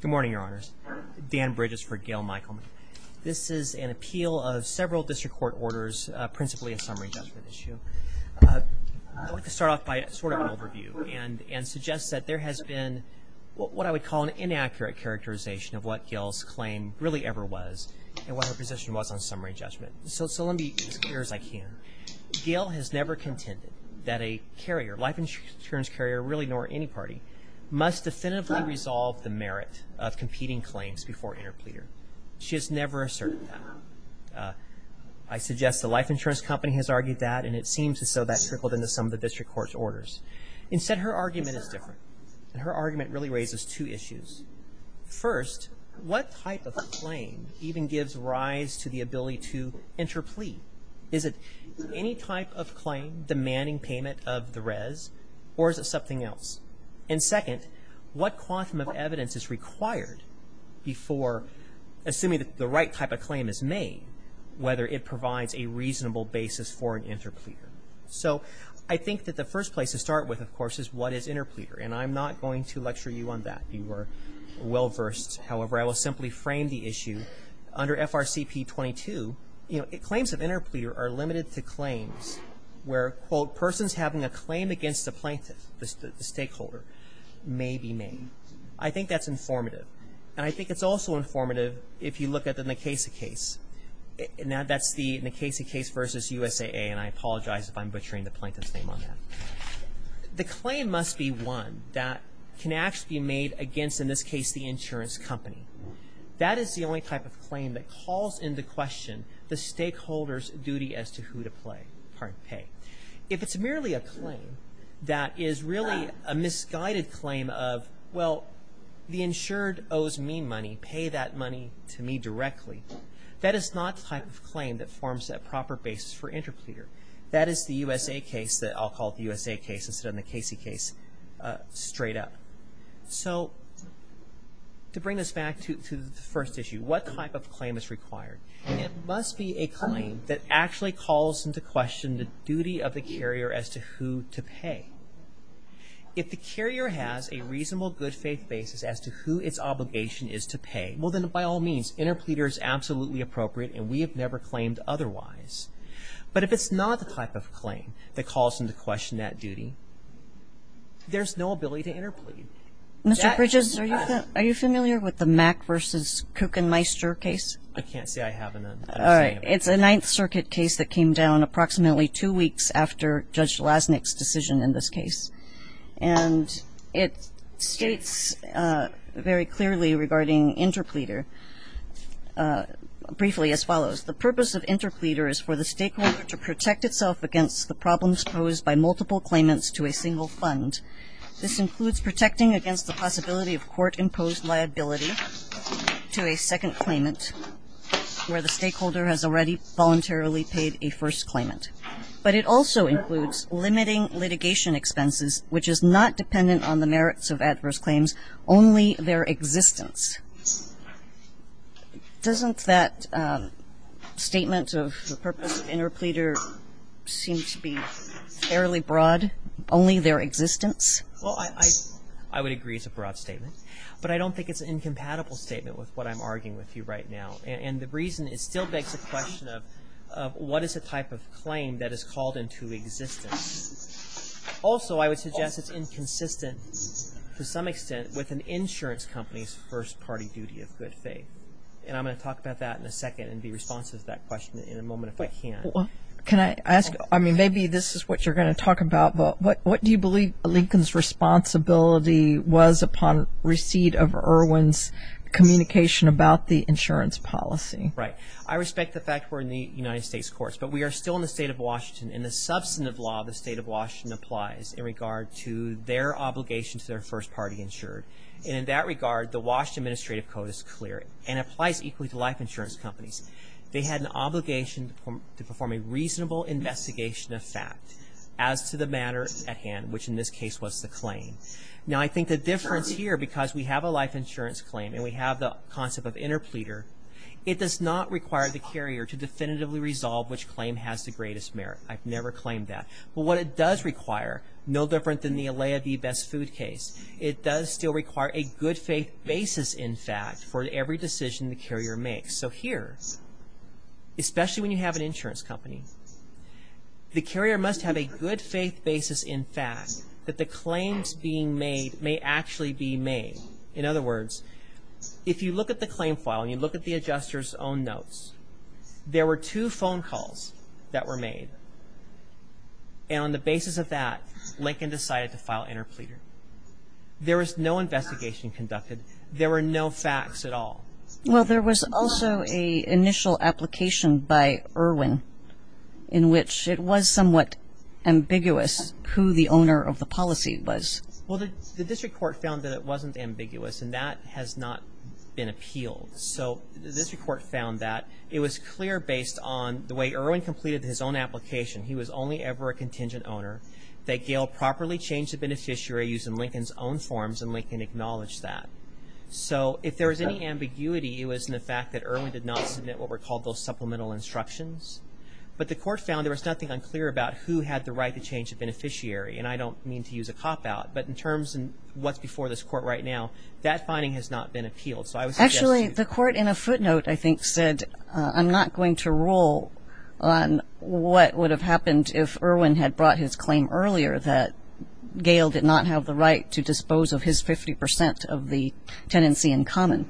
Good morning, Your Honors. Dan Bridges for Gail Michelman. This is an appeal of several district court orders, principally a summary judgment issue. I'd like to start off by sort of an overview and suggest that there has been what I would call an inaccurate characterization of what Gail's claim really ever was and what her position was on summary judgment. So let me be as clear as I can. Gail has never contended that a carrier, life insurance carrier, really substantively resolved the merit of competing claims before interpleader. She has never asserted that. I suggest the life insurance company has argued that, and it seems as though that trickled into some of the district court's orders. Instead, her argument is different. Her argument really raises two issues. First, what type of claim even gives rise to the ability to interplead? Is it any type of claim demanding payment of the res, or is it something else? And second, what quantum of evidence is required before, assuming that the right type of claim is made, whether it provides a reasonable basis for an interpleader? So I think that the first place to start with, of course, is what is interpleader? And I'm not going to lecture you on that. You are well-versed. However, I will simply frame the issue. Under FRCP 22, you know, claims of interpleader are limited to claims where, quote, persons having a claim against the plaintiff, the stakeholder, may be made. I think that's informative, and I think it's also informative if you look at the Nkeise case. Now, that's the Nkeise case versus USAA, and I apologize if I'm butchering the plaintiff's name on that. The claim must be one that can actually be made against, in this case, the insurance company. That is the only type of claim that calls into question the stakeholder's right to who to pay. If it's merely a claim that is really a misguided claim of, well, the insured owes me money, pay that money to me directly, that is not the type of claim that forms that proper basis for interpleader. That is the USA case that I'll call the USA case instead of the Nkeise case, straight up. So to bring us back to the first issue, what type of claim is required? It must be a claim that actually calls into question the duty of the carrier as to who to pay. If the carrier has a reasonable good faith basis as to who its obligation is to pay, well, then by all means, interpleader is absolutely appropriate, and we have never claimed otherwise. But if it's not the type of claim that calls into question that duty, there's no ability to interplead. Mr. Bridges, are you familiar with the Mack v. Kuchenmeister case? I can't say I have an understanding of it. It's a Ninth Circuit case that came down approximately two weeks after Judge Lasnik's decision in this case. And it states very clearly regarding interpleader, briefly as follows, the purpose of interpleader is for the stakeholder to protect itself against the problems posed by multiple claimants to a single fund. This includes protecting against the possibility of court-imposed liability to a second claimant where the stakeholder has already voluntarily paid a first claimant. But it also includes limiting litigation expenses, which is not dependent on the merits of adverse claims, only their existence. Doesn't that statement of the purpose of interpleader seem to be fairly broad? Only their existence? I would agree it's a broad statement. But I don't think it's an incompatible statement with what I'm arguing with you right now. And the reason is it still begs the question of what is the type of claim that is called into existence? Also, I would suggest it's inconsistent to some extent with an insurance company's first-party duty of good faith. And I'm going to talk about that in a second and be responsive to that question in a moment if I can. Can I ask, I mean, maybe this is what you're going to talk about, but what do you believe Lincoln's responsibility was upon receipt of Irwin's communication about the insurance policy? Right. I respect the fact we're in the United States courts, but we are still in the state of Washington. And the substantive law of the state of Washington applies in regard to their obligation to their first-party insured. And in that regard, the Washington Administrative Code is clear and applies equally to life insurance companies. They had an obligation to perform a reasonable investigation of fact as to the matter at hand, which in this case was the claim. Now I think the difference here, because we have a life insurance claim and we have the concept of interpleader, it does not require the carrier to definitively resolve which claim has the greatest merit. I've never claimed that. But what it does require, no different than the Alaya v. Best Food case, it does still require a good faith basis, in fact, for every decision the carrier makes. So here, especially when you have an insurance company, the carrier must have a good faith basis in fact that the claims being made may actually be made. In other words, if you look at the claim file and you look at the adjuster's own notes, there were two phone calls that were made. And on the basis of that, Lincoln decided to file interpleader. There was no investigation conducted. There were no facts at all. Well, there was also an initial application by Irwin in which it was somewhat ambiguous who the owner of the policy was. Well, the district court found that it wasn't ambiguous and that has not been appealed. So the district court found that it was clear based on the way Irwin completed his own application, he was only ever a contingent owner, that Gail properly changed the beneficiary using Lincoln's own forms and Lincoln acknowledged that. So if there was any ambiguity, it was in the fact that Irwin did not submit what were called those supplemental instructions. But the court found there was nothing unclear about who had the right to change the beneficiary. And I don't mean to use a cop-out, but in terms of what's before this court right now, that finding has not been appealed. Actually, the court in a footnote, I think, said, I'm not going to rule on what would have happened if Irwin had brought his claim earlier that Gail did not have the right to dispose of his 50 percent of the tenancy in common.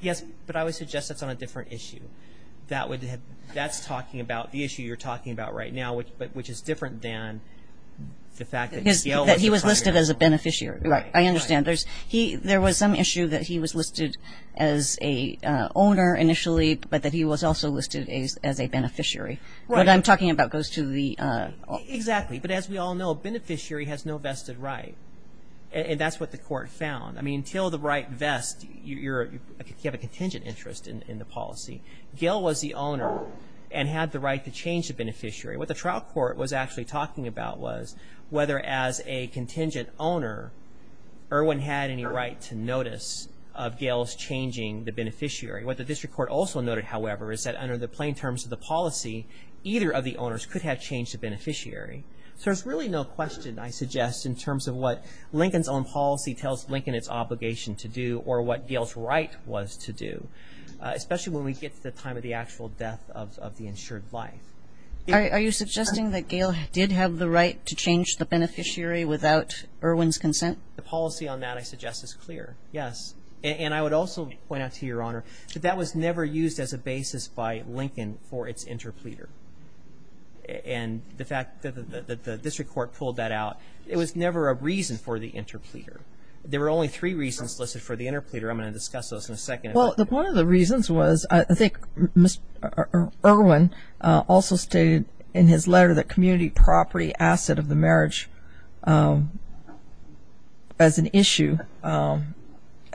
Yes, but I would suggest that's on a different issue. That's talking about the issue you're talking about right now, which is different than the fact that Gail was the primary owner. I understand. There was some issue that he was listed as a owner initially, but that he was also listed as a beneficiary. What I'm talking about goes to the... Exactly. But as we all know, a beneficiary has no vested right. And that's what the court found. I mean, until the right vests, you have a contingent interest in the policy. Gail was the owner and had the right to change the beneficiary. What the trial court was actually talking about was whether, as a contingent owner, Irwin had any right to notice of Gail's changing the beneficiary. What the district court also noted, however, is that under the plain terms of the policy, either of the owners could have changed the beneficiary. So there's really no question, I suggest, in terms of what Lincoln's own policy tells Lincoln its obligation to do or what Gail's right was to do, especially when we get to the time of the actual death of the insured life. Are you suggesting that Gail did have the right to change the beneficiary without Irwin's consent? The policy on that, I suggest, is clear, yes. And I would also point out to Your Honor that that was never used as a basis by Lincoln for its interpleader. And the fact that the district court pulled that out, it was never a reason for the interpleader. There were only three reasons listed for the interpleader. I'm going to discuss those in a second. Well, one of the reasons was, I think, Irwin also stated in his letter that community property asset of the marriage as an issue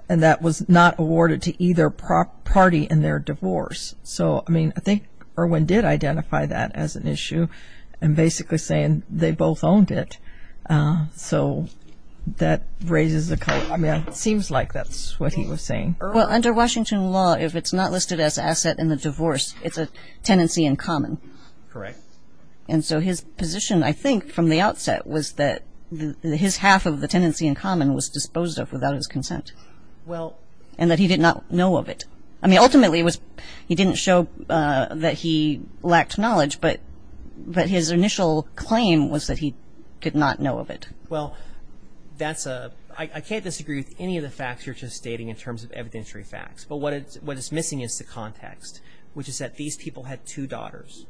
and that was not awarded to either party in their divorce. So, I mean, I think Irwin did identify that as an issue and basically saying they both owned it. So that raises the color. I mean, it seems like that's what he was saying. Well, under Washington law, if it's not listed as asset in the divorce, it's a tenancy in common. Correct. And so his position, I think, from the outset was that his half of the tenancy in common was disposed of without his consent. Well... And that he did not know of it. I mean, ultimately, he didn't show that he lacked knowledge, but his initial claim was that he could not know of it. Well, I can't disagree with any of the facts you're just stating in terms of evidentiary facts. But what is missing is the context, which is that these people had two daughters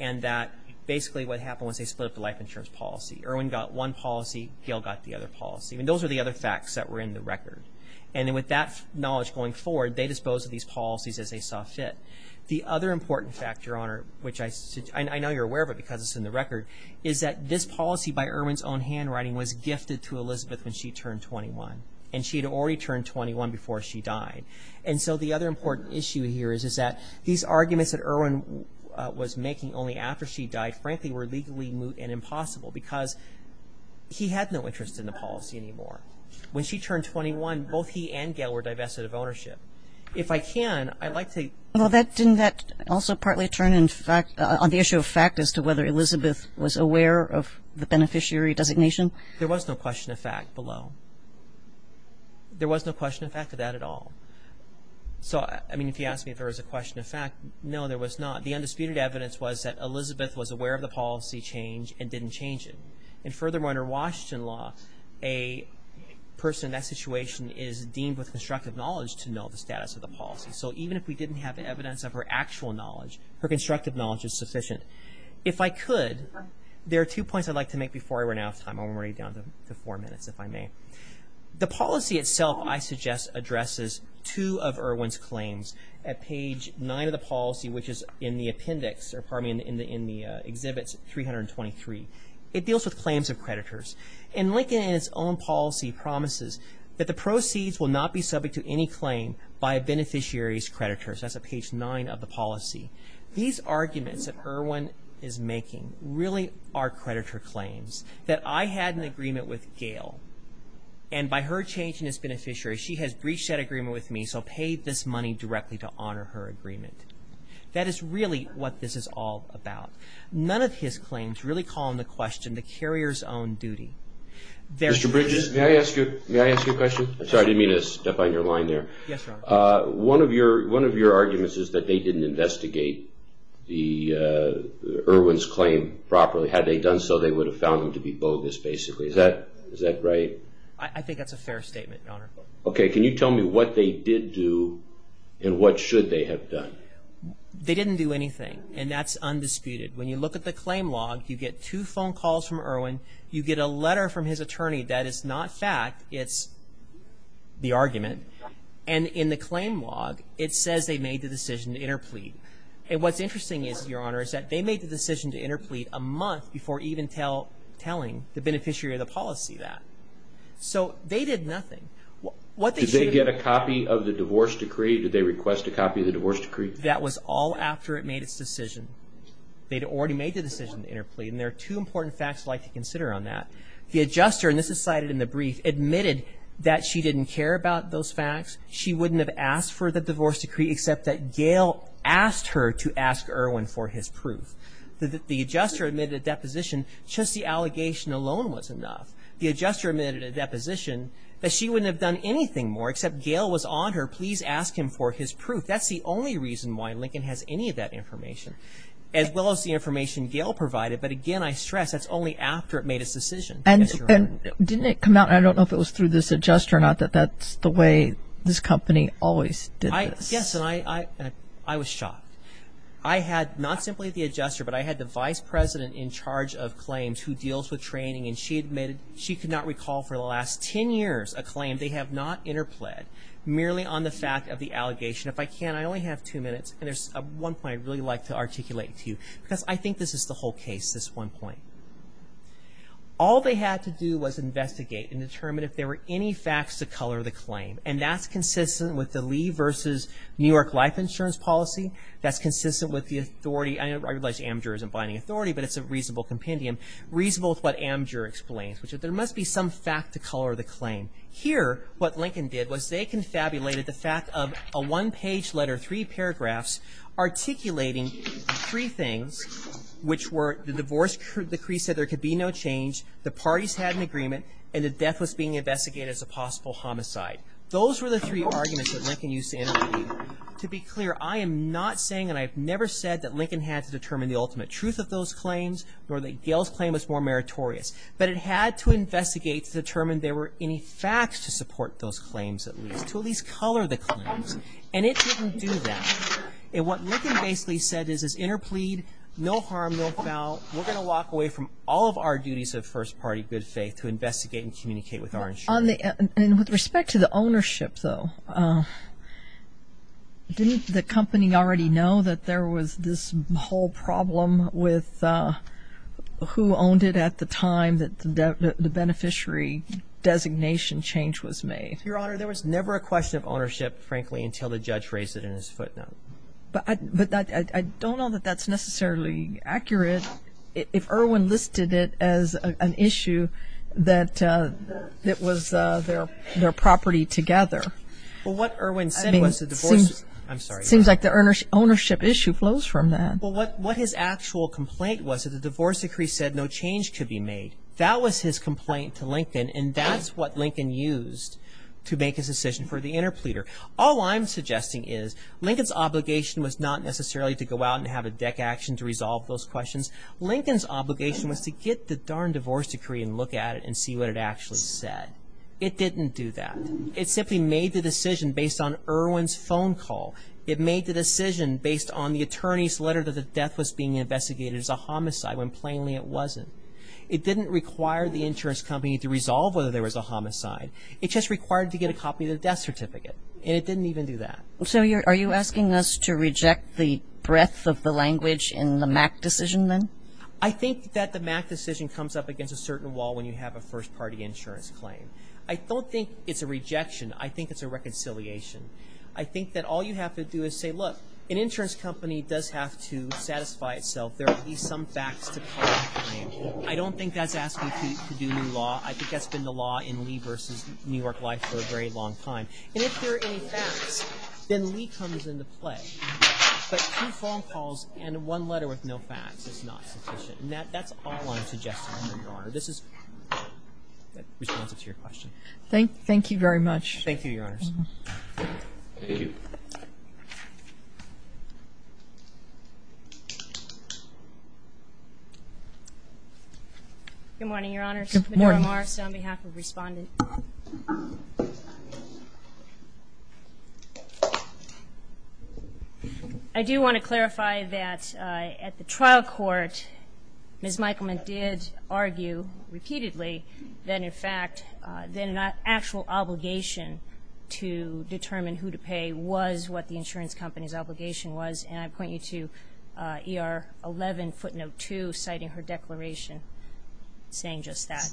and that basically what happened was they split up the life insurance policy. Irwin got one policy, Gail got the other policy. I mean, those are the other facts that were in the record. And with that knowledge going forward, they disposed of these policies as they saw fit. The other important factor, which I know you're aware of it because it's in the record, is that this policy by Irwin's own handwriting was gifted to Elizabeth when she turned 21. And she had already turned 21 before she died. And so the other important issue here is that these arguments that Irwin was making only after she died, frankly, were legally moot and impossible because he had no interest in the policy anymore. When she turned 21, both he and Gail were divested of ownership. If I can, I'd like to... Well, didn't that also partly turn on the issue of fact as to whether Elizabeth was aware of the beneficiary designation? There was no question of fact below. There was no question of fact of that at all. So, I mean, if you ask me if there was a question of fact, no, there was not. The undisputed evidence was that Elizabeth was aware of the policy change and didn't change it. And furthermore, under Washington law, a person in that situation is deemed with constructive knowledge to know the status of the policy. So even if we didn't have evidence of her actual knowledge, her constructive knowledge is sufficient. If I could, there are two points I'd like to make before I run out of time. I'm already down to four minutes, if I may. The policy itself, I suggest, addresses two of Irwin's claims at page nine of the policy, which is in the appendix, or pardon me, in the exhibits 323. It deals with claims of creditors. And Lincoln, in his own policy, promises that the proceeds will not be subject to any claim by a beneficiary's creditors. That's at page nine of the policy. These arguments that Irwin is making really are creditor claims. That I had an agreement with Gail, and by her changing as beneficiary, she has breached that agreement with me, so paid this money directly to honor her agreement. That is really what this is all about. None of his claims really call into question the carrier's own duty. Mr. Bridges, may I ask you a question? I'm sorry, I didn't mean to step on your line there. Yes, Your Honor. One of your arguments is that they didn't investigate Irwin's claim properly. Had they done so, they would have found them to be bogus, basically. Is that right? I think that's a fair statement, Your Honor. Okay, can you tell me what they did do, and what should they have done? They didn't do anything, and that's undisputed. When you look at the claim log, you get two phone calls from Irwin, you get a letter from his attorney that is not fact, it's the argument. And in the claim log, it says they made the decision to interplead. And what's interesting is, Your Honor, is that they made the decision to interplead a month before even telling the beneficiary of the policy that. So, they did nothing. Did they get a copy of the divorce decree? Did they request a copy of the divorce decree? That was all after it made its decision. They'd already made the decision to interplead, and there are two important facts I'd like to consider on that. The adjuster, and this is cited in the brief, admitted that she didn't care about those facts, she wouldn't have asked for the divorce decree, except that Gail asked her to ask Irwin for his proof. The adjuster admitted a deposition, just the allegation alone was enough. The adjuster admitted a deposition, that she wouldn't have done anything more, except Gail was on her, please ask him for his proof. That's the only reason why Lincoln has any of that information, as well as the information Gail provided. But again, I stress, that's only after it made its decision. And didn't it come out, I don't know if it was through this adjuster or not, that that's the way this company always did this? Yes, and I was shocked. I had, not simply the adjuster, but I had the vice president in charge of claims, who deals with training, and she admitted, she could not recall for the last 10 years a claim they have not interpled, merely on the fact of the allegation. If I can, I only have two minutes, and there's one point I'd really like to articulate to you, because I think this is the whole case, this one point. All they had to do was investigate and determine if there were any facts to color the claim. And that's consistent with the Lee versus New York Life Insurance policy, that's consistent with the authority, I realize Amadure isn't buying authority, but it's a reasonable compendium, reasonable with what Amadure explains, which is there must be some fact to color the claim. Here, what Lincoln did was they confabulated the fact of a one-page letter, three paragraphs, articulating three things, which were the divorce decree said there could be no change, the parties had an agreement, and that death was being investigated as a possible homicide. Those were the three arguments that Lincoln used to interpret. To be clear, I am not saying, and I've never said, that Lincoln had to determine the ultimate truth of those claims, or that Gayle's claim was more meritorious. But it had to investigate to determine there were any facts to support those claims at least, to at least color the claims. And it didn't do that. And what Lincoln basically said is, is interplead, no harm, no foul, we're going to walk away from all of our duties of first party good faith to investigate and communicate with our insurance company. And with respect to the ownership, though, didn't the company already know that there was this whole problem with who owned it at the time that the beneficiary designation change was made? Your Honor, there was never a question of ownership, frankly, until the judge raised it in his footnote. But I don't know that that's necessarily accurate. If Irwin listed it as an issue that it was their property together. Well, what Irwin said was the divorce... I'm sorry. It seems like the ownership issue flows from that. But what his actual complaint was that the divorce decree said no change could be made. That was his complaint to Lincoln. And that's what Lincoln used to make his decision for the interpleader. All I'm suggesting is Lincoln's obligation was not necessarily to go out and have a deck action to resolve those questions. Lincoln's obligation was to get the darn divorce decree and look at it and see what it actually said. It didn't do that. It simply made the decision based on Irwin's phone call. It made the decision based on the attorney's letter that the death was being investigated as a homicide when plainly it wasn't. It didn't require the insurance company to resolve whether there was a homicide. It just required to get a copy of the death certificate. And it didn't even do that. So are you asking us to reject the breadth of the language in the MAC decision then? I think that the MAC decision comes up against a certain wall when you have a first-party insurance claim. I don't think it's a rejection. I think it's a reconciliation. I think that all you have to do is say, look, an insurance company does have to satisfy itself. There are at least some facts to call the claim. I don't think that's asking to do new law. I think that's been the law in Lee versus New York life for a very long time. And if there are any facts, then Lee comes into play. But two phone calls and one letter with no facts is not sufficient. And that's all I'm suggesting, Your Honor. This is responsive to your question. Thank you very much. Thank you, Your Honors. Thank you. Good morning, Your Honors. Good morning. Medora Morris on behalf of Respondent. I do want to clarify that at the trial court, Ms. Michaelman did argue repeatedly that, in fact, the actual obligation to determine who to pay was what the insurance company's obligation was. And I point you to ER 11 footnote 2 citing her declaration saying just that.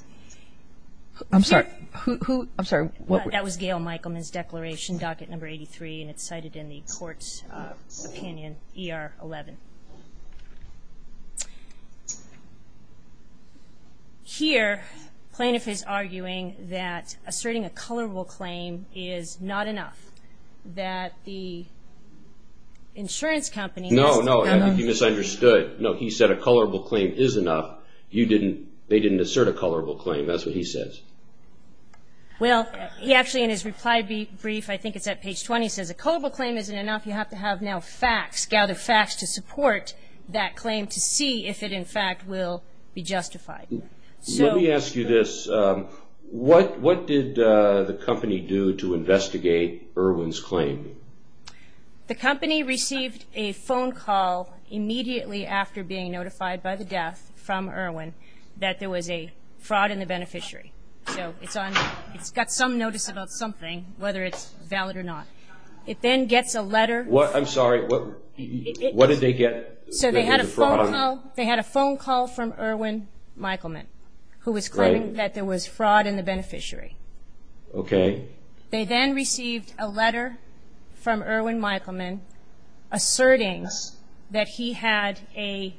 I'm sorry. Who? I'm sorry. That was Gail Michaelman's declaration, docket number 83. And it's cited in the court's opinion, ER 11. Here, plaintiff is arguing that asserting a colorable claim is not enough. That the insurance company has to have enough. No, no. You misunderstood. No, he said a colorable claim is enough. You didn't, they didn't assert a colorable claim. That's what he says. Well, he actually, in his reply brief, I think it's at page 20, says a colorable claim isn't enough. You have to have now facts. You have to have facts to support that claim to see if it, in fact, will be justified. Let me ask you this. What did the company do to investigate Irwin's claim? The company received a phone call immediately after being notified by the death from Irwin that there was a fraud in the beneficiary. So it's on, it's got some notice about something, whether it's valid or not. It then gets a letter. I'm sorry. What did they get? They had a phone call from Irwin Michelman, who was claiming that there was fraud in the beneficiary. Okay. They then received a letter from Irwin Michelman asserting that he had a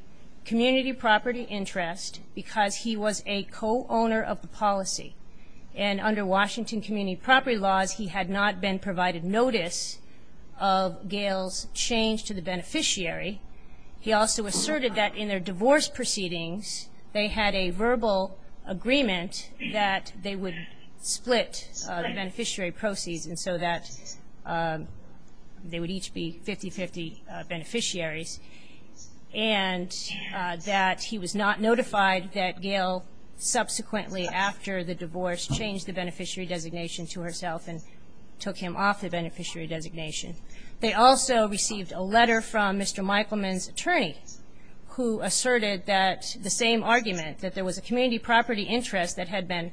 community property interest because he was a co-owner of the policy. And under Washington community property laws, he had not been provided notice of Gayle's change to the beneficiary. He also asserted that in their divorce proceedings, they had a verbal agreement that they would split the beneficiary proceeds and so that they would each be 50-50 beneficiaries. And that he was not notified that Gayle subsequently after the divorce changed the beneficiary designation to herself and took him off the beneficiary designation. They also received a letter from Mr. Michelman's attorney who asserted that the same argument, that there was a community property interest that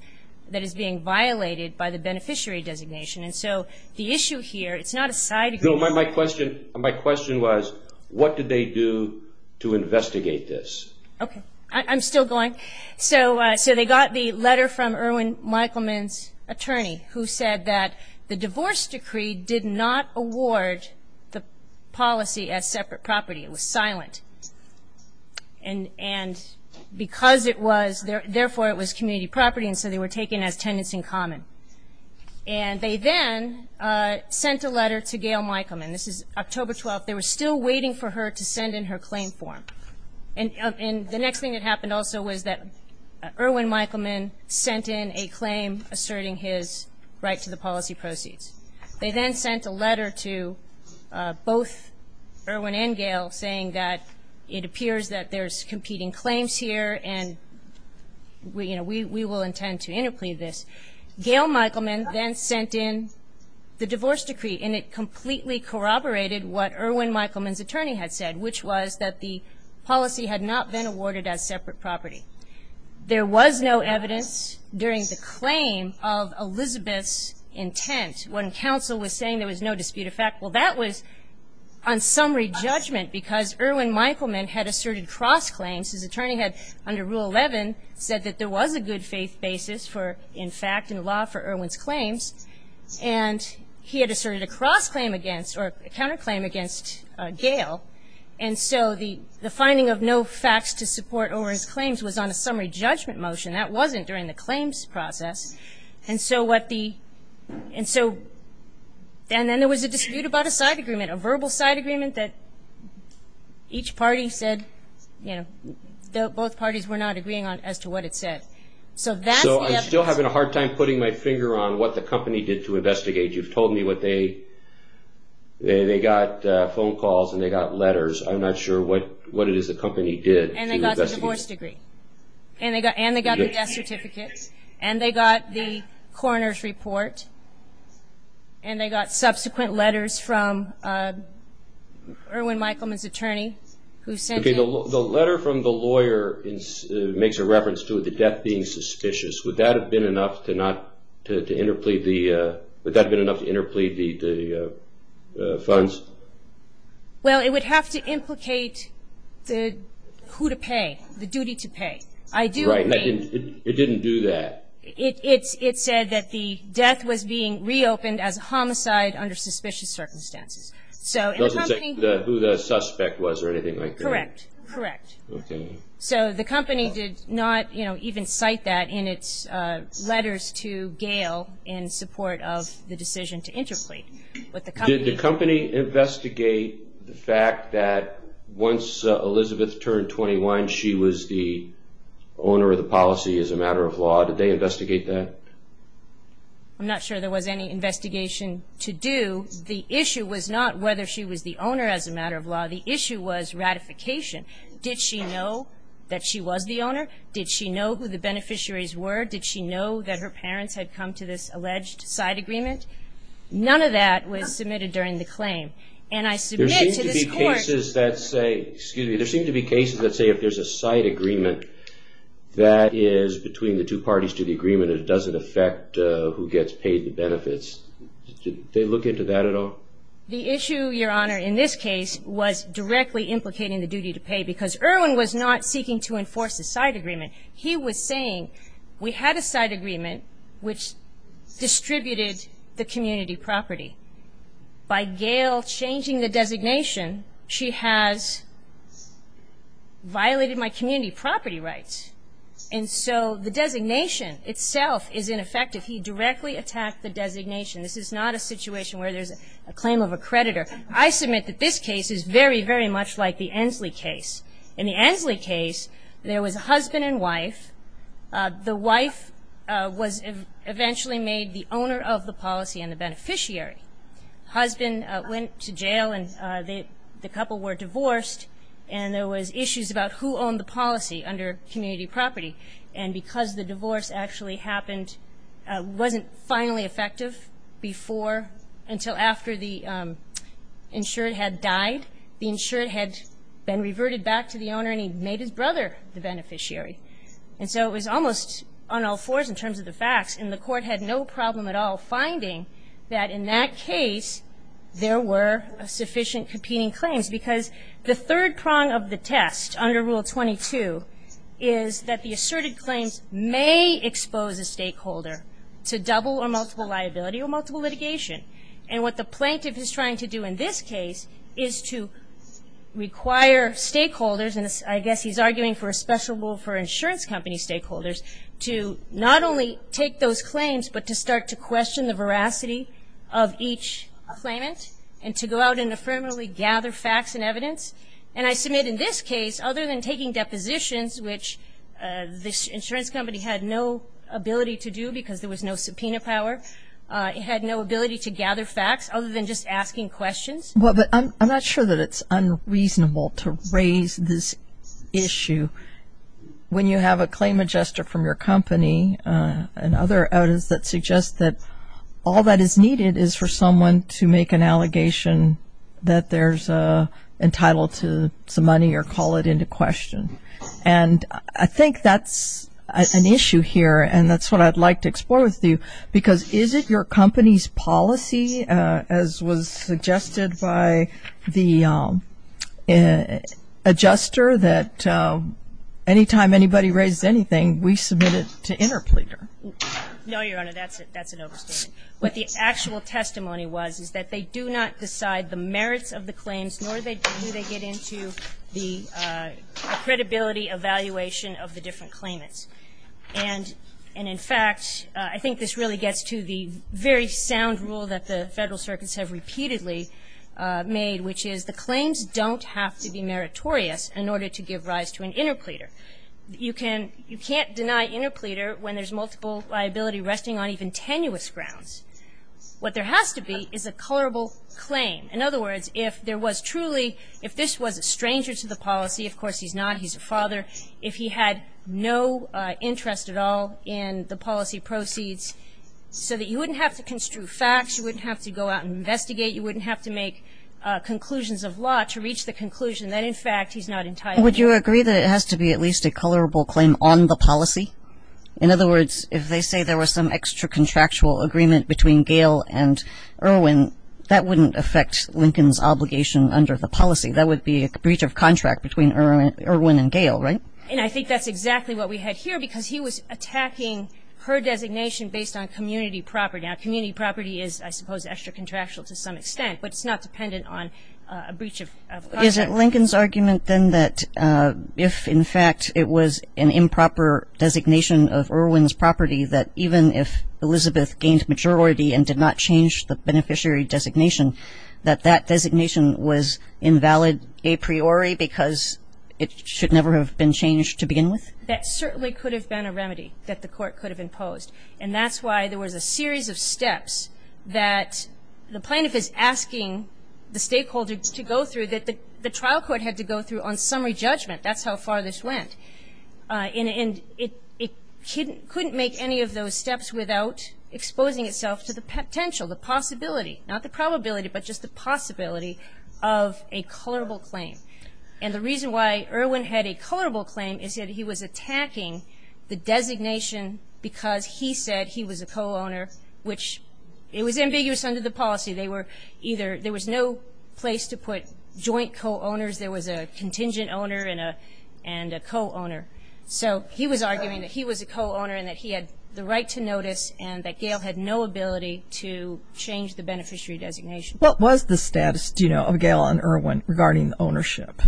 is being violated by the beneficiary designation. And so the issue here, it's not a side agreement. My question was, what did they do to investigate this? Okay. I'm still going. So they got the letter from Irwin Michelman's attorney who said that the divorce decree did not award the policy as separate property. It was silent. And because it was, therefore it was community property, and so they were taken as tenants in common. And they then sent a letter to Gayle Michelman. This is October 12th. They were still waiting for her to send in her claim form. And the next thing that happened also was that Irwin Michelman sent in a claim asserting his right to the policy proceeds. They then sent a letter to both Irwin and Gayle saying that it appears that there's competing claims here and we will intend to interplead this. Gayle Michelman then sent in the divorce decree and it completely corroborated what Irwin Michelman's attorney had said, which was that the policy had not been awarded as separate property. There was no evidence during the claim of Elizabeth's intent when counsel was saying there was no dispute of fact. Well, that was on summary judgment because Irwin Michelman had asserted cross-claims. His attorney had, under Rule 11, said that there was a good faith basis for, in fact, in law for Irwin's claims. And he had asserted a cross-claim against, or a counter-claim against Gayle. And so the finding of no facts to support over his claims was on a summary judgment motion. That wasn't during the claims process. And then there was a dispute about a side agreement, a verbal side agreement that each party said, both parties were not agreeing as to what it said. So I'm still having a hard time putting my finger on what the company did to investigate. You've told me they got phone calls and they got letters. I'm not sure what it is the company did. And they got the divorce degree. And they got the death certificate. And they got the coroner's report. And they got subsequent letters from Irwin Michelman's attorney. The letter from the lawyer makes a reference to the death being suspicious. Would that have been enough to interplead the funds? Well, it would have to implicate the who to pay, the duty to pay. Right. It didn't do that. It said that the death was being reopened as a homicide under suspicious circumstances. It doesn't say who the suspect was or anything like that? Correct. Correct. So the company did not even cite that in its letters to Gail in support of the decision to interplead. Did the company investigate the fact that once Elizabeth turned 21 she was the owner of the policy as a matter of law? Did they investigate that? I'm not sure there was any investigation to do. The issue was not whether she was the owner as a matter of law. The issue was ratification. Did she know that she was the owner? Did she know who the beneficiaries were? Did she know that her parents had come to this alleged side agreement? None of that was submitted during the claim. There seem to be cases that say if there's a side agreement that is between the two parties to the agreement and it doesn't affect who gets paid the benefits. Did they look into that at all? The issue, Your Honor, in this case was directly implicating the duty to pay because Erwin was not seeking to enforce a side agreement. He was saying we had a side agreement which distributed the community property. By Gail changing the designation she has violated my community property rights. And so the designation itself is ineffective. He directly attacked the designation. This is not a situation where there's a claim of a creditor. I submit that this case is very, very much like the Ensley case. In the Ensley case there was a husband and wife. The wife was eventually made the owner of the policy and the beneficiary. The husband went to jail and the couple were divorced and there was issues about who owned the policy under community property. And because the divorce actually happened, it wasn't finally effective until after the insured had died. The insured had been reverted back to the owner and he made his brother the beneficiary. And so it was almost on all fours in terms of the facts and the court had no problem at all finding that in that case there were sufficient competing claims. Because the third prong of the test under Rule 22 is that the asserted claims may expose a stakeholder to double or multiple liability or multiple litigation. And what the plaintiff is trying to do in this case is to require stakeholders, and I guess he's arguing for a special rule for insurance company stakeholders, to not only take those claims but to start to question the veracity of each claimant and to go out and affirmatively gather facts and evidence. And I submit in this case, other than taking depositions, which this insurance company had no ability to do because there was no subpoena power, it had no ability to gather facts other than just asking questions. Well, but I'm not sure that it's unreasonable to raise this issue when you have a claim adjuster from your company and other audits that suggest that all that is needed is for someone to make an allegation that they're entitled to some money or call it into question. And I think that's an issue here and that's what I'd like to explore with you because is it your company's policy, as was suggested by the adjuster, that anytime anybody raises anything, we submit it to interpleader? No, Your Honor, that's an overstatement. What the actual testimony was is that they do not decide the merits of the claims nor do they get into the credibility evaluation of the different claimants. And in fact, I think this really gets to the very sound rule that the Federal circuits have repeatedly made, which is the claims don't have to be meritorious in order to give rise to an interpleader. You can't deny interpleader when there's multiple liability and resting on even tenuous grounds. What there has to be is a colorable claim. In other words, if there was truly, if this was a stranger to the policy, of course he's not, he's a father, if he had no interest at all in the policy proceeds, so that you wouldn't have to construe facts, you wouldn't have to go out and investigate, you wouldn't have to make conclusions of law to reach the conclusion that in fact he's not entitled. Would you agree that it has to be at least a colorable claim on the policy? In other words, if they say there was some extra-contractual agreement between Gale and Irwin, that wouldn't affect Lincoln's obligation under the policy. That would be a breach of contract between Irwin and Gale, right? And I think that's exactly what we had here, because he was attacking her designation based on community property. Now, community property is, I suppose, extra-contractual to some extent, but it's not dependent on a breach of contract. Is it Lincoln's argument, then, that if, in fact, it was an improper designation of Irwin's property, that even if Elizabeth gained majority and did not change the beneficiary designation, that that designation was invalid a priori, because it should never have been changed to begin with? That certainly could have been a remedy that the court could have imposed, and that's why there was a series of steps that the plaintiff is asking the stakeholder to go through, that the trial court had to go through on summary judgment. That's how far this went. And it couldn't make any of those steps without exposing itself to the potential, the possibility, not the probability, but just the possibility of a colorable claim. And the reason why Irwin had a colorable claim is that he was attacking the designation because he said he was a co-owner, which, it was ambiguous under the policy. There was no place to put joint co-owners. There was a contingent owner and a co-owner. So he was arguing that he was a co-owner and that he had the right to notice and that Gail had no ability to change the beneficiary designation. What was the status, do you know, of Gail and Irwin regarding ownership?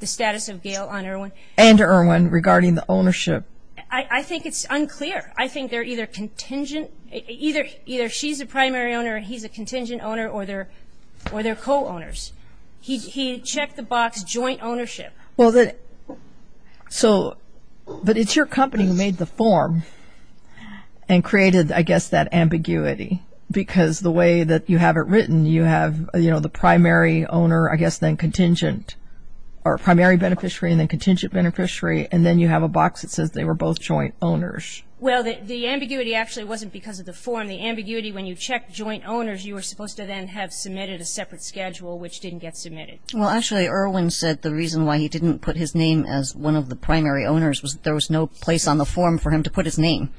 The status of Gail and Irwin? And Irwin regarding the ownership. I think it's unclear. I think they're either contingent, either she's the primary owner and he's a contingent owner or they're co-owners. He checked the box joint ownership. Well, so, but it's your company who made the form and created, I guess, that ambiguity because the way that you have it written, you have, you know, the primary owner, I guess, then contingent, or primary beneficiary and then contingent beneficiary, and then you have a box that says they were both joint owners. Well, the ambiguity actually wasn't because of the form. The ambiguity, when you check joint owners, you were supposed to then have submitted a separate schedule which didn't get submitted. Well, actually, Irwin said the reason why he didn't put his name as one of the primary owners was there was no place on the form for him to put his name.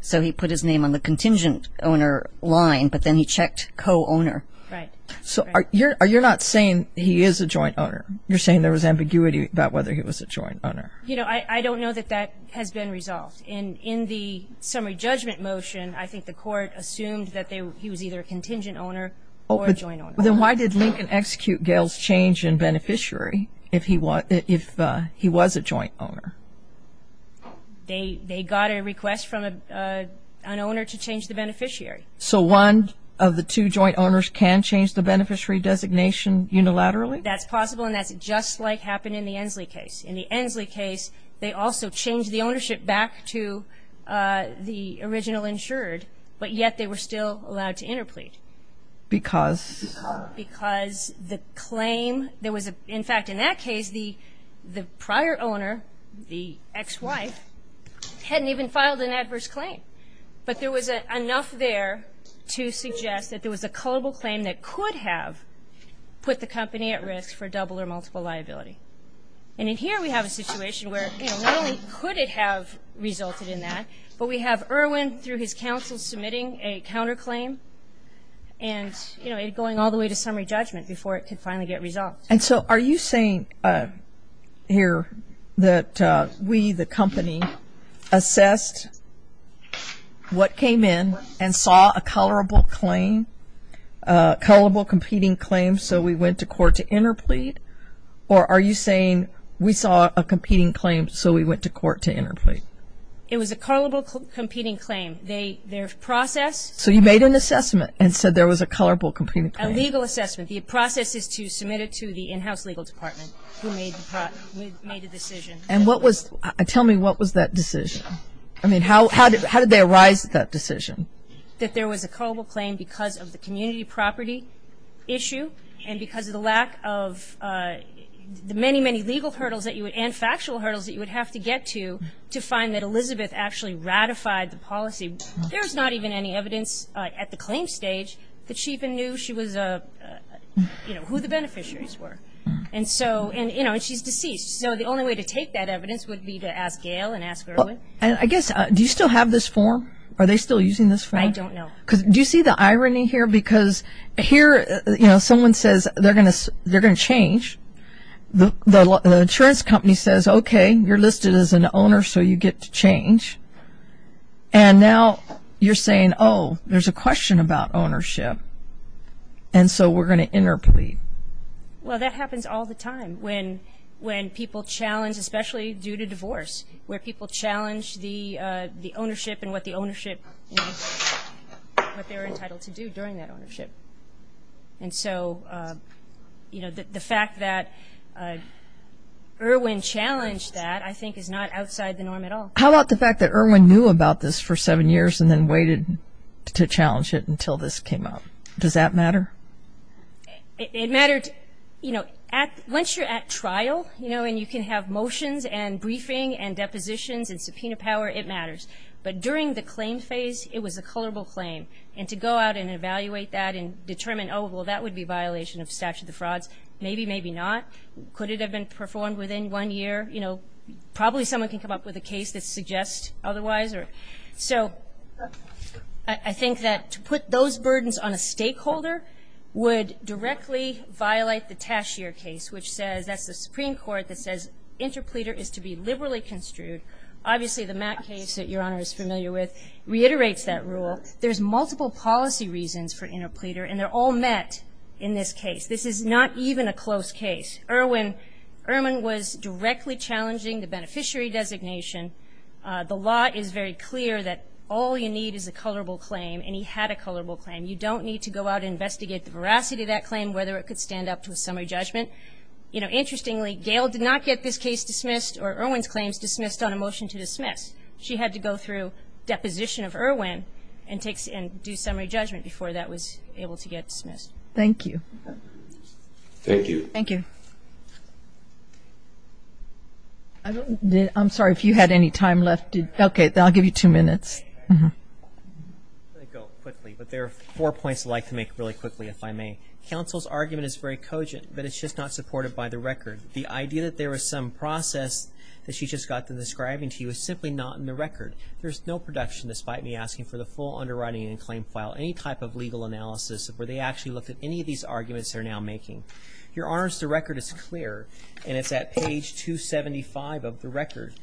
So he put his name on the contingent owner line, but then he checked co-owner. Right. So you're not saying he is a joint owner. You're saying there was ambiguity about whether he was a joint owner. You know, I don't know that that has been resolved. In the summary judgment motion, I think the court assumed that he was either a contingent owner or a joint owner. Oh, but then why did Lincoln execute Gale's change in beneficiary if he was a joint owner? They got a request from an owner to change the beneficiary. So one of the two joint owners can change the beneficiary designation unilaterally? That's possible, and that's just like happened in the Ensley case. In the Ensley case, they also changed the ownership back to the original insured, but yet they were still allowed to interplead. Because? Because the claim, there was a, in fact, in that case, the prior owner, the ex-wife, hadn't even filed an adverse claim. But there was enough there to suggest that there was a culpable claim that could have put the company at risk for double or multiple liability. And in here, we have a situation where not only could it have resulted in that, but we have Irwin, through his counsel, submitting a counterclaim and going all the way to summary judgment before it could finally get resolved. And so are you saying here that we, the company, assessed what came in and saw a culpable competing claim, so we went to court to interplead? Or are you saying we saw a competing claim, so we went to court to interplead? It was a culpable competing claim. Their process... So you made an assessment and said there was a culpable competing claim? A legal assessment. The process is to submit it to the in-house legal department who made the decision. And what was, tell me, what was that decision? I mean, how did they arise at that decision? That there was a culpable claim because of the community property issue and because of the lack of the many, many legal hurdles that you would, and factual hurdles that you would have to get to, to find that Elizabeth actually ratified the policy. There's not even any evidence at the claim stage that she even knew she was, you know, who the beneficiaries were. And so, you know, and she's deceased. So the only way to take that evidence would be to ask Gail and ask Irwin. I guess, do you still have this form? Are they still using this form? I don't know. Do you see the irony here? Because here, you know, someone says they're going to change. The insurance company says, okay, you're listed as an owner so you get to change. And now you're saying, oh, there's a question about ownership. And so we're going to interplead. Well, that happens all the time when people challenge, especially due to divorce, where people challenge the ownership and what the ownership, what they're entitled to do during that ownership. And so, you know, the fact that Irwin challenged that, I think is not outside the norm at all. How about the fact that Irwin knew about this for seven years and then waited to challenge it until this came out? Does that matter? It mattered, you know, once you're at trial, you know, and you can have motions and briefing and depositions and subpoena power, it matters. But during the claim phase, it was a colorable claim. And to go out and evaluate that and determine, oh, well, that would be a violation of statute of frauds. Maybe, maybe not. Could it have been performed within one year? You know, probably someone can come up with a case that suggests otherwise. So I think that to put those burdens on a stakeholder would directly violate the Tashier case, which says, that's the Supreme Court that says interpleader is to be liberally construed. Obviously, the Mack case that Your Honor is familiar with reiterates that rule. There's multiple policy reasons for interpleader and they're all met in this case. This is not even a close case. Irwin, Irwin was directly challenging the beneficiary designation. The law is very clear that all you need is a colorable claim and he had a colorable claim. You don't need to go out and investigate the veracity of that claim, whether it could stand up to a summary judgment. You know, interestingly, Gale did not get this case dismissed or Irwin's claims dismissed on a motion to dismiss. She had to go through deposition of Irwin and do summary judgment before that was able to get dismissed. Thank you. Thank you. Thank you. I'm sorry, if you had any time left. Okay, I'll give you two minutes. There are four points I'd like to make really quickly, if I may. Counsel's argument is very cogent, but it's just not supported by the record. The idea that there was some process that she just got to describing to you is simply not in the record. There's no production, despite me asking for the full underwriting and claim file, any type of legal analysis where they actually looked at any of these arguments they're now making. Your Honors, the record is clear and it's at page 275 of the record.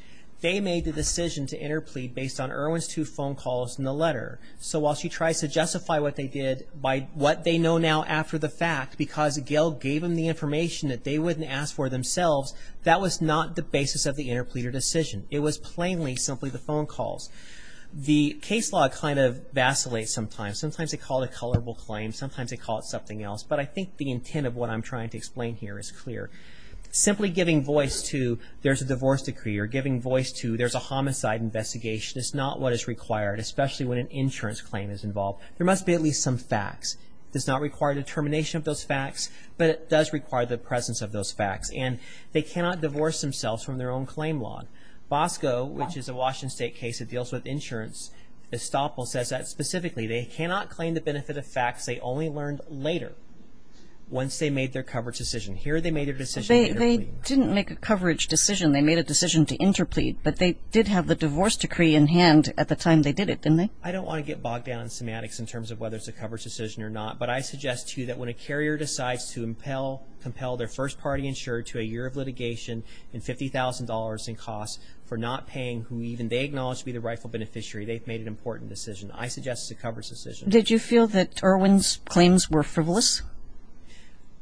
They made the decision to interplead based on Irwin's two phone calls and the letter, so while she tries to justify what they did by what they know now after the fact, because Gale gave them the information that they wouldn't ask for themselves, that was not the basis of the interpleader decision. It was plainly simply the phone calls. The case law kind of vacillates sometimes. Sometimes they call it a colorable claim, sometimes they call it something else, but I think the intent of what I'm trying to explain here is clear. Simply giving voice to there's a divorce decree or giving voice to there's a homicide investigation is not what is required, especially when an insurance claim is involved. There must be at least some facts. It does not require determination of those facts, but it does require the presence of those facts and they cannot divorce themselves from their own claim law. Bosco, which is a Washington State case that deals with insurance, Estoppel says that specifically, they cannot claim the benefit of facts they only learned later once they made their coverage decision. Here they made their decision later. They didn't make a coverage decision, they made a decision to interplead, but they did have the divorce decree in hand at the time they did it, didn't they? I don't want to get bogged down in semantics in terms of whether it's a coverage decision or not, but I suggest to you that when a carrier decides to compel their first party insured to a year of litigation and $50,000 in costs for not paying who even they acknowledge to be the rightful beneficiary, they've made an important decision. I suggest it's a coverage decision. Did you feel that Irwin's claims were frivolous?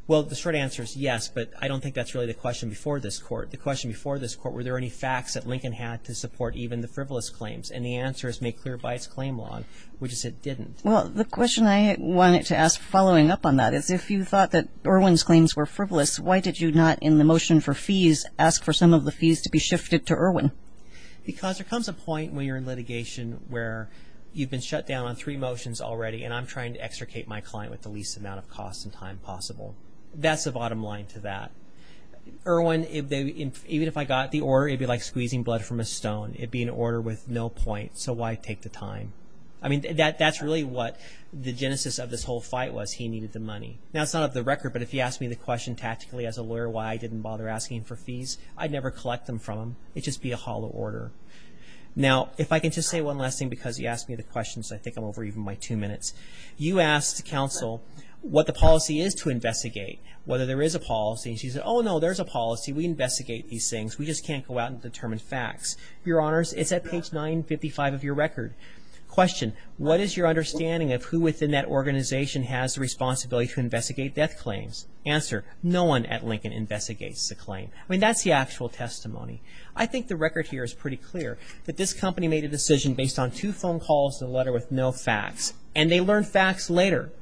Well, the short answer is yes, but I don't think that's really the question before this court. The question before this court, were there any facts that Lincoln had to support even the frivolous claims? And the answer is made clear by its claim law, which is it didn't. Well, the question I wanted to ask following up on that is if you thought that Irwin's claims were frivolous, why did you not in the motion for fees ask for some of the fees to be shifted to Irwin? Because there comes a point when you're in litigation where you've been shut down on three motions already and I'm trying to extricate my client with the least amount of cost and time possible. That's the bottom line to that. Irwin, even if I got the order, it'd be like squeezing blood from a stone. It'd be an order with no point, so why take the time? I mean, that's really what the genesis of this whole fight was. He needed the money. Now, it's not on the record, but if you asked me the question tactically as a lawyer why I didn't bother asking for fees, I'd never collect them from him. It'd just be a hollow order. Now, if I can just say one last thing because you asked me the question, so I think I'm over even my two minutes. You asked counsel what the policy is to investigate, whether there is a policy. She said, oh, no, there's a policy. We investigate these things. We just can't go out and determine facts. Your Honors, it's at page 955 of your record. Question, what is your understanding of who within that organization has the responsibility to investigate death claims? Answer, no one at Lincoln investigates the claim. I mean, that's the actual testimony. I think the record here is pretty clear that this company made a decision based on two phone calls and a letter with no facts. And they learned facts later.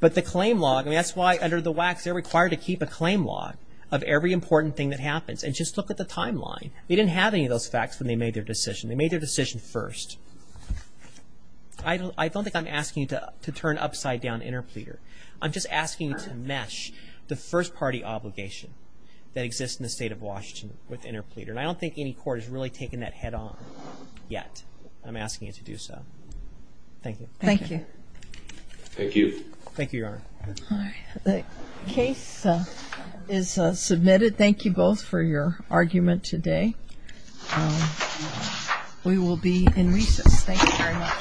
But the claim log, I mean, that's why under the WACs they're required to keep a claim log of every important thing that happens, and just look at the timeline. They didn't have any of those facts when they made their decision. They made their decision first. I don't think I'm asking you to turn upside down interpleader. I'm just asking you to mesh the first party obligation that exists in the state of Washington with interpleader, and I don't think any court has really taken that head on yet. I'm asking you to do so. Thank you. Thank you. Thank you. Thank you, Your Honor. All right. The case is submitted. Thank you both for your argument today. We will be in recess. Thank you very much. All rise. This court's discussion stands adjourned.